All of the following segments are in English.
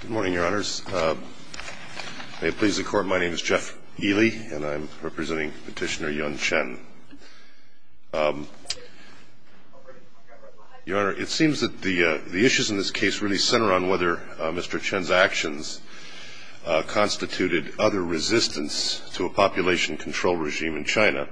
Good morning, Your Honors. May it please the Court, my name is Jeff Ely, and I'm representing Petitioner Yun Chen. Your Honor, it seems that the issues in this case really center on whether Mr. Chen's actions constituted other resistance to a population control regime in China,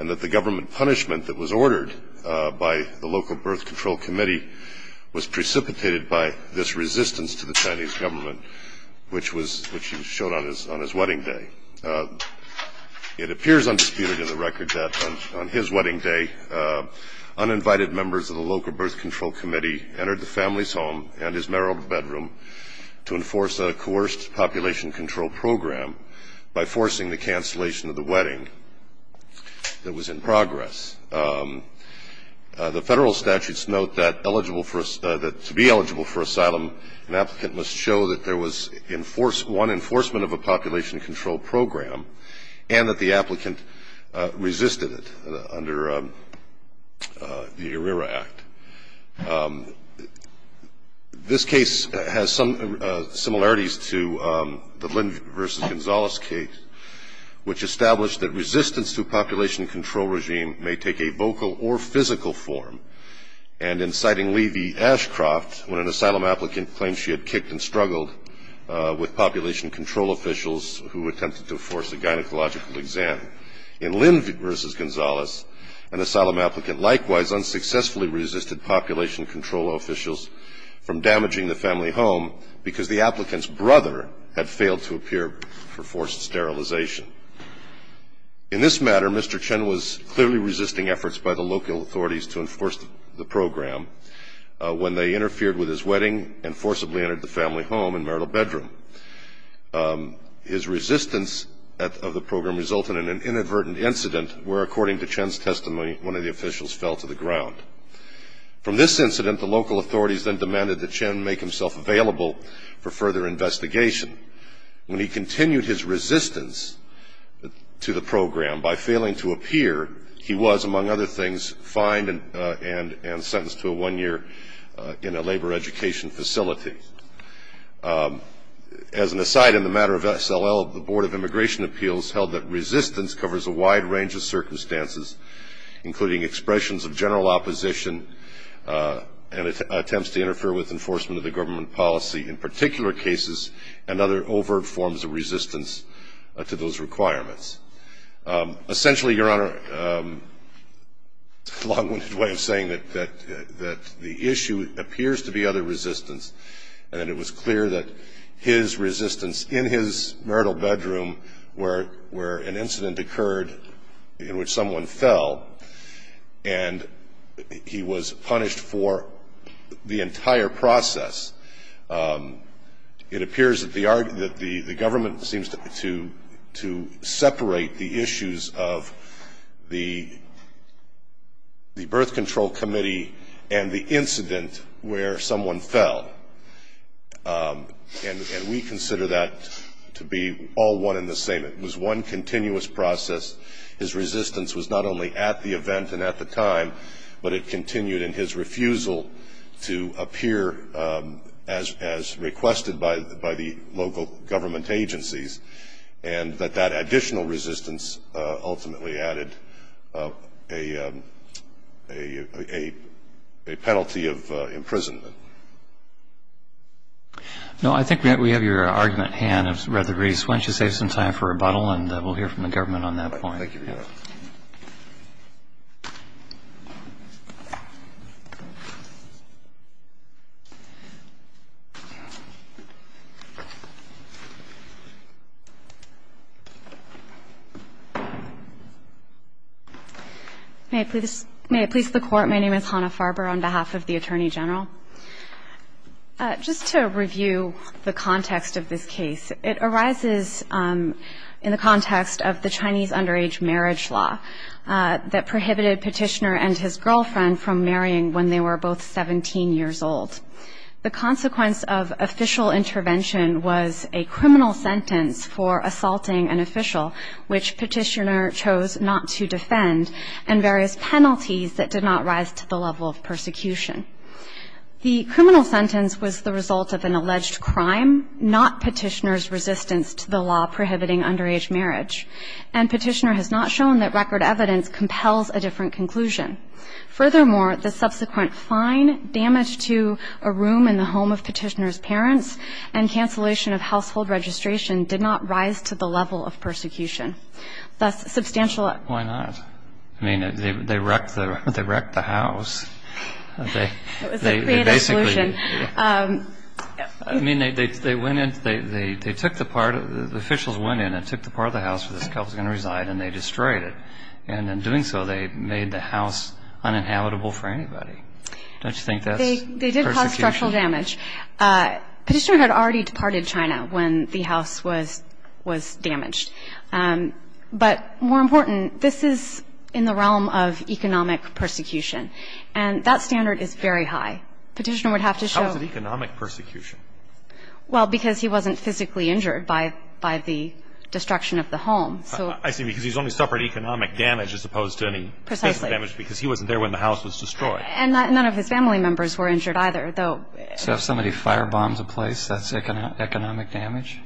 and that the government punishment that was ordered by the local birth control committee was precipitated by this resistance to the Chinese government, which he showed on his wedding day. It appears undisputed in the record that on his wedding day, uninvited members of the local birth control committee entered the family's home and his marital bedroom to enforce a coerced population control program by forcing the cancellation of the population control program, and that to be eligible for asylum, an applicant must show that there was one enforcement of a population control program, and that the applicant resisted it under the ERIRA Act. This case has some similarities to the Lynn v. Gonzales case, which established that resistance to a population control regime may take a vocal or physical form. And in citing Levy-Ashcroft, when an asylum applicant claimed she had kicked and struggled with population control officials who attempted to force a gynecological exam, in Lynn v. Gonzales, an asylum applicant likewise unsuccessfully resisted population control officials from damaging the family home because the applicant's brother had failed to appear for forced sterilization. In this matter, Mr. Chen was clearly resisting efforts by the local authorities to enforce the program when they interfered with his wedding and forcibly entered the family home and marital bedroom. His resistance of the program resulted in an inadvertent incident where, according to Chen's testimony, one of the officials fell to the ground. From this incident, the local authorities then demanded that Chen make himself available for further investigation. When he continued his resistance to the program by failing to appear, he was, among other things, fined and sentenced to one year in a labor education facility. As an aside in the matter of S.L.L., the Board of Immigration Appeals held that resistance covers a wide range of circumstances, including expressions of general opposition and attempts to interfere with enforcement of the government policy in particular cases and other overt forms of resistance to those requirements. Essentially, Your Honor, a long-winded way of saying that the issue appears to be other resistance, and that it was clear that his resistance in his marital bedroom where an incident occurred in which someone fell, and he was punished for the entire process of it appears that the government seems to separate the issues of the birth control committee and the incident where someone fell. And we consider that to be all one and the same. It was one continuous process. His resistance was not only at the event and at the time, but it continued in his refusal to appear as requested by the local government agencies, and that that additional resistance ultimately added a penalty of imprisonment. No, I think we have your argument, Han, of Rutherford Reese. Why don't you save some time for rebuttal, and we'll hear from the government on that point. Thank you, Your Honor. May it please the Court, my name is Hannah Farber on behalf of the Attorney General. Just to review the context of this case, it arises in the context of the Chinese underage marriage law that prohibited Petitioner and his girlfriend from marrying when they were both 17 years old. The consequence of official intervention was a criminal sentence for assaulting an official, which Petitioner chose not to defend, and various penalties that did not rise to the level of persecution. The criminal sentence was the result of an alleged crime, not Petitioner's resistance to the law prohibiting underage marriage, and Petitioner has not shown that record evidence compels a different conclusion. Furthermore, the subsequent fine, damage to a room in the home of Petitioner's parents, and cancellation of household registration did not rise to the level of persecution. Thus, substantial... I mean, they wrecked the house. It was a creative solution. I mean, they went in, they took the part, the officials went in and took the part of the house where this couple was going to reside, and they destroyed it. And in doing so, they made the house uninhabitable for anybody. Don't you think that's persecution? They did cause structural damage. Petitioner had already departed China when the house was damaged. But more important, this is in the realm of economic persecution, and that standard is very high. Petitioner would have to show... How was it economic persecution? Well, because he wasn't physically injured by the destruction of the home, so... I see, because he's only suffered economic damage as opposed to any physical damage... Precisely. ...because he wasn't there when the house was destroyed. And none of his family members were injured either, though... So if somebody firebombs a place, that's economic damage?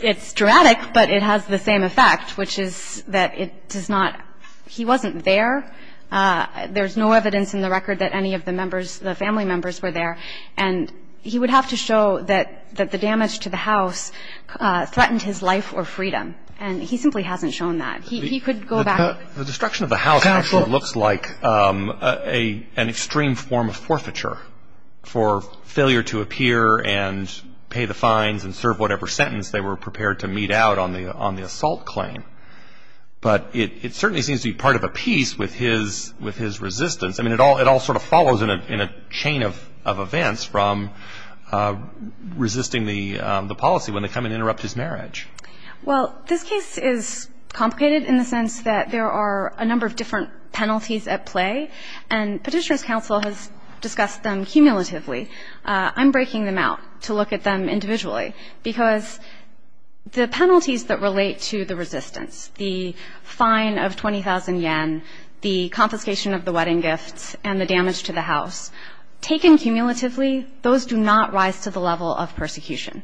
It's dramatic, but it has the same effect, which is that it does not... He wasn't there. There's no evidence in the record that any of the members, the family members, were there. And he would have to show that the damage to the house threatened his life or freedom. And he simply hasn't shown that. He could go back... The destruction of the house actually looks like an extreme form of forfeiture for failure to appear and pay the fines and serve whatever sentence they were prepared to mete out on the assault claim. But it certainly seems to be part of a piece with his resistance. I mean, it all sort of follows in a chain of events from resisting the policy when they come and interrupt his marriage. Well, this case is complicated in the sense that there are a number of different penalties at play, and Petitioners' Counsel has discussed them cumulatively. I'm breaking them out to look at them individually, because the penalties that relate to the resistance, the fine of 20,000 yen, the confiscation of the wedding gifts, and the damage to the house, taken cumulatively, those do not rise to the level of persecution.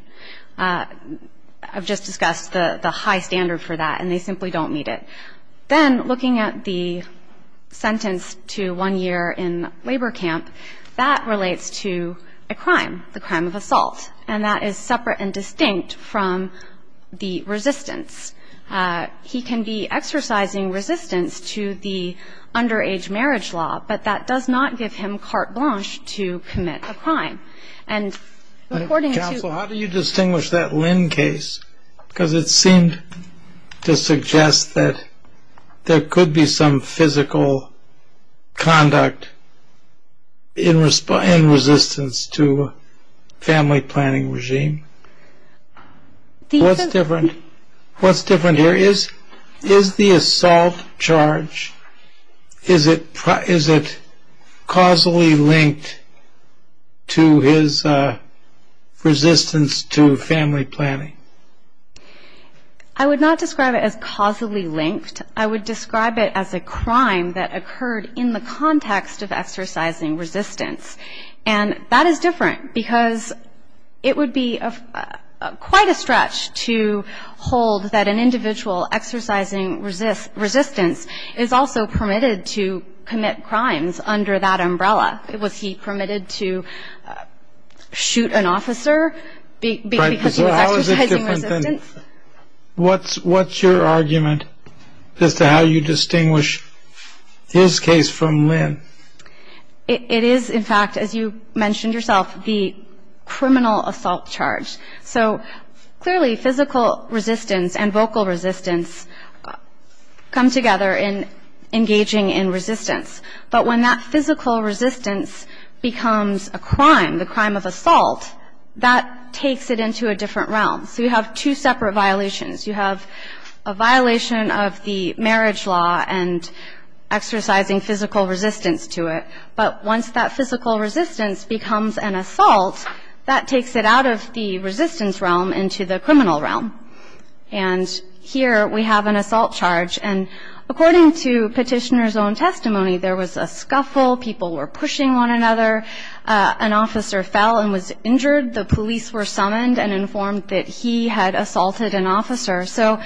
I've just discussed the high standard for that, and they simply don't meet it. Then, looking at the sentence to one year in labor camp, that relates to a crime, the crime of assault, and that is separate and distinct from the resistance. He can be exercising resistance to the underage marriage law, but that does not give him carte blanche to commit a crime. Counsel, how do you distinguish that Lin case? Because it seemed to suggest that there could be some physical conduct in resistance to family planning regime. What's different here? Is the assault charge, is it causally linked to his resistance to family planning? I would not describe it as causally linked. I would describe it as a crime that occurred in the context of exercising resistance, and that is different because it would be quite a stretch to hold that an individual exercising resistance is also permitted to commit crimes under that umbrella. Was he permitted to shoot an officer because he was exercising resistance? What's your argument as to how you distinguish his case from Lin? It is, in fact, as you mentioned yourself, the criminal assault charge. So, clearly, physical resistance and vocal resistance come together in engaging in resistance. But when that physical resistance becomes a crime, the crime of assault, that takes it into a different realm. So you have two separate violations. You have a violation of the marriage law and exercising physical resistance to it. But once that physical resistance becomes an assault, that takes it out of the resistance realm into the criminal realm. And here we have an assault charge. And according to Petitioner's own testimony, there was a scuffle. People were pushing one another. An officer fell and was injured. The police were summoned and informed that he had assaulted an officer. So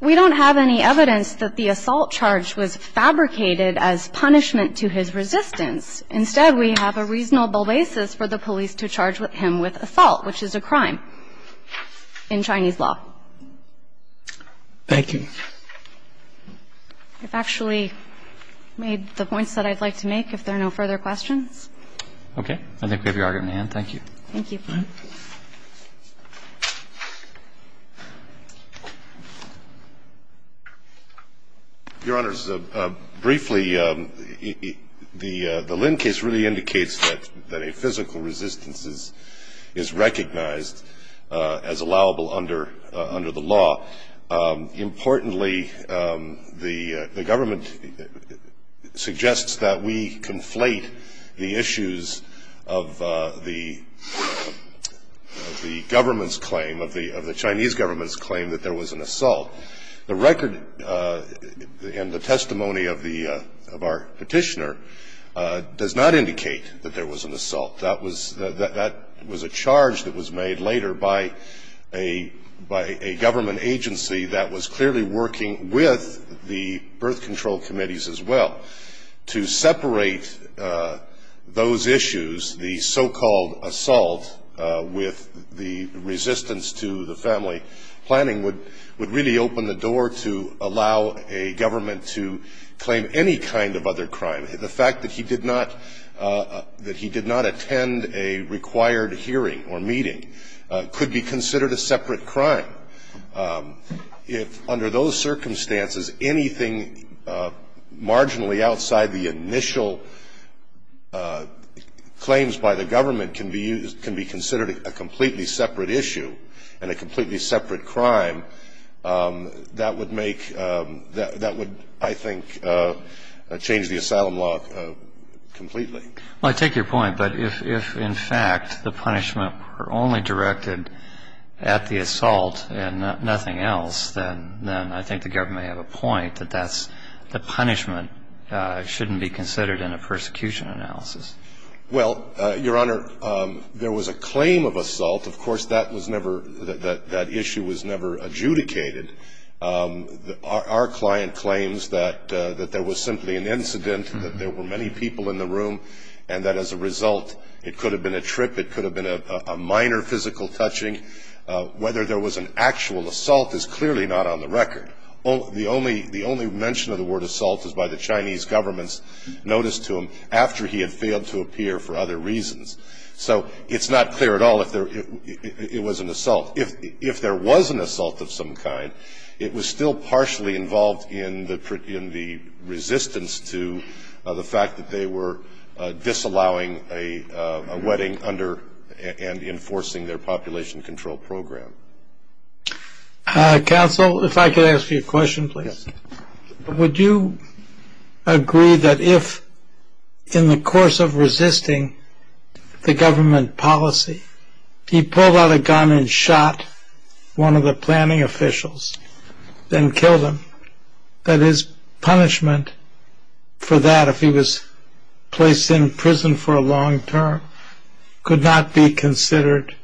we don't have any evidence that the assault charge was fabricated as punishment to his resistance. Instead, we have a reasonable basis for the police to charge him with assault, which is a crime in Chinese law. Thank you. I've actually made the points that I'd like to make, if there are no further questions. Okay. I think we have your argument in hand. Thank you. Thank you. Your Honors, briefly, the Lin case really indicates that a physical resistance is recognized as allowable under the law. Importantly, the government suggests that we conflate the issues of the government's claim, of the Chinese government's claim, that there was an assault. The record and the testimony of our Petitioner does not indicate that there was an assault. That was a charge that was made later by a government agency that was clearly working with the birth control committees as well. To separate those issues, the so-called assault with the resistance to the family planning, would really open the door to allow a government to claim any kind of other crime. The fact that he did not attend a required hearing or meeting could be considered a separate crime. If, under those circumstances, anything marginally outside the initial claims by the government can be considered a completely separate issue and a completely separate crime, that would, I think, change the asylum law completely. I take your point. But if, in fact, the punishment were only directed at the assault and nothing else, then I think the government may have a point that the punishment shouldn't be considered in a persecution analysis. Well, Your Honor, there was a claim of assault. Of course, that issue was never adjudicated. Our client claims that there was simply an incident, that there were many people in the room, and that, as a result, it could have been a trip, it could have been a minor physical touching. Whether there was an actual assault is clearly not on the record. The only mention of the word assault is by the Chinese government's notice to him after he had failed to appear for other reasons. So it's not clear at all if it was an assault. If there was an assault of some kind, it was still partially involved in the resistance to the fact that they were disallowing a wedding and enforcing their population control program. Counsel, if I could ask you a question, please. Would you agree that if, in the course of resisting the government policy, he pulled out a gun and shot one of the planning officials, then killed him, that his punishment for that, if he was placed in prison for a long term, could not be considered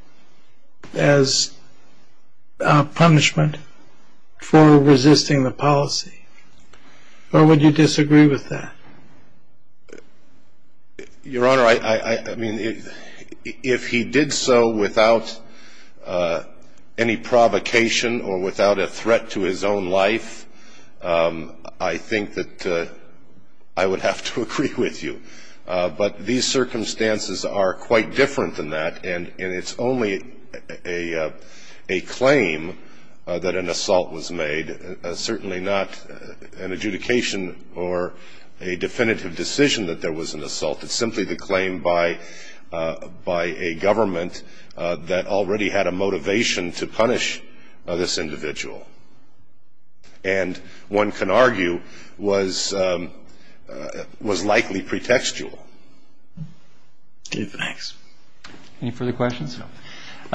as punishment for resisting the policy? Or would you disagree with that? Your Honor, I mean, if he did so without any provocation or without a threat to his own life, I think that I would have to agree with you. But these circumstances are quite different than that, and it's only a claim that an assault was made, certainly not an adjudication or a definitive decision that there was an assault. It's simply the claim by a government that already had a motivation to punish this individual. And one can argue was likely pretextual. Okay, thanks. Any further questions? No.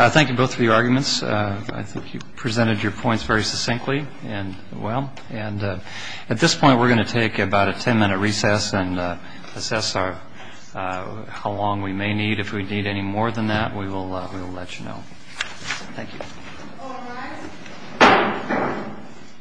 Thank you both for your arguments. I think you presented your points very succinctly and well. And at this point, we're going to take about a ten-minute recess and assess how long we may need. If we need any more than that, we will let you know. Thank you. All rise.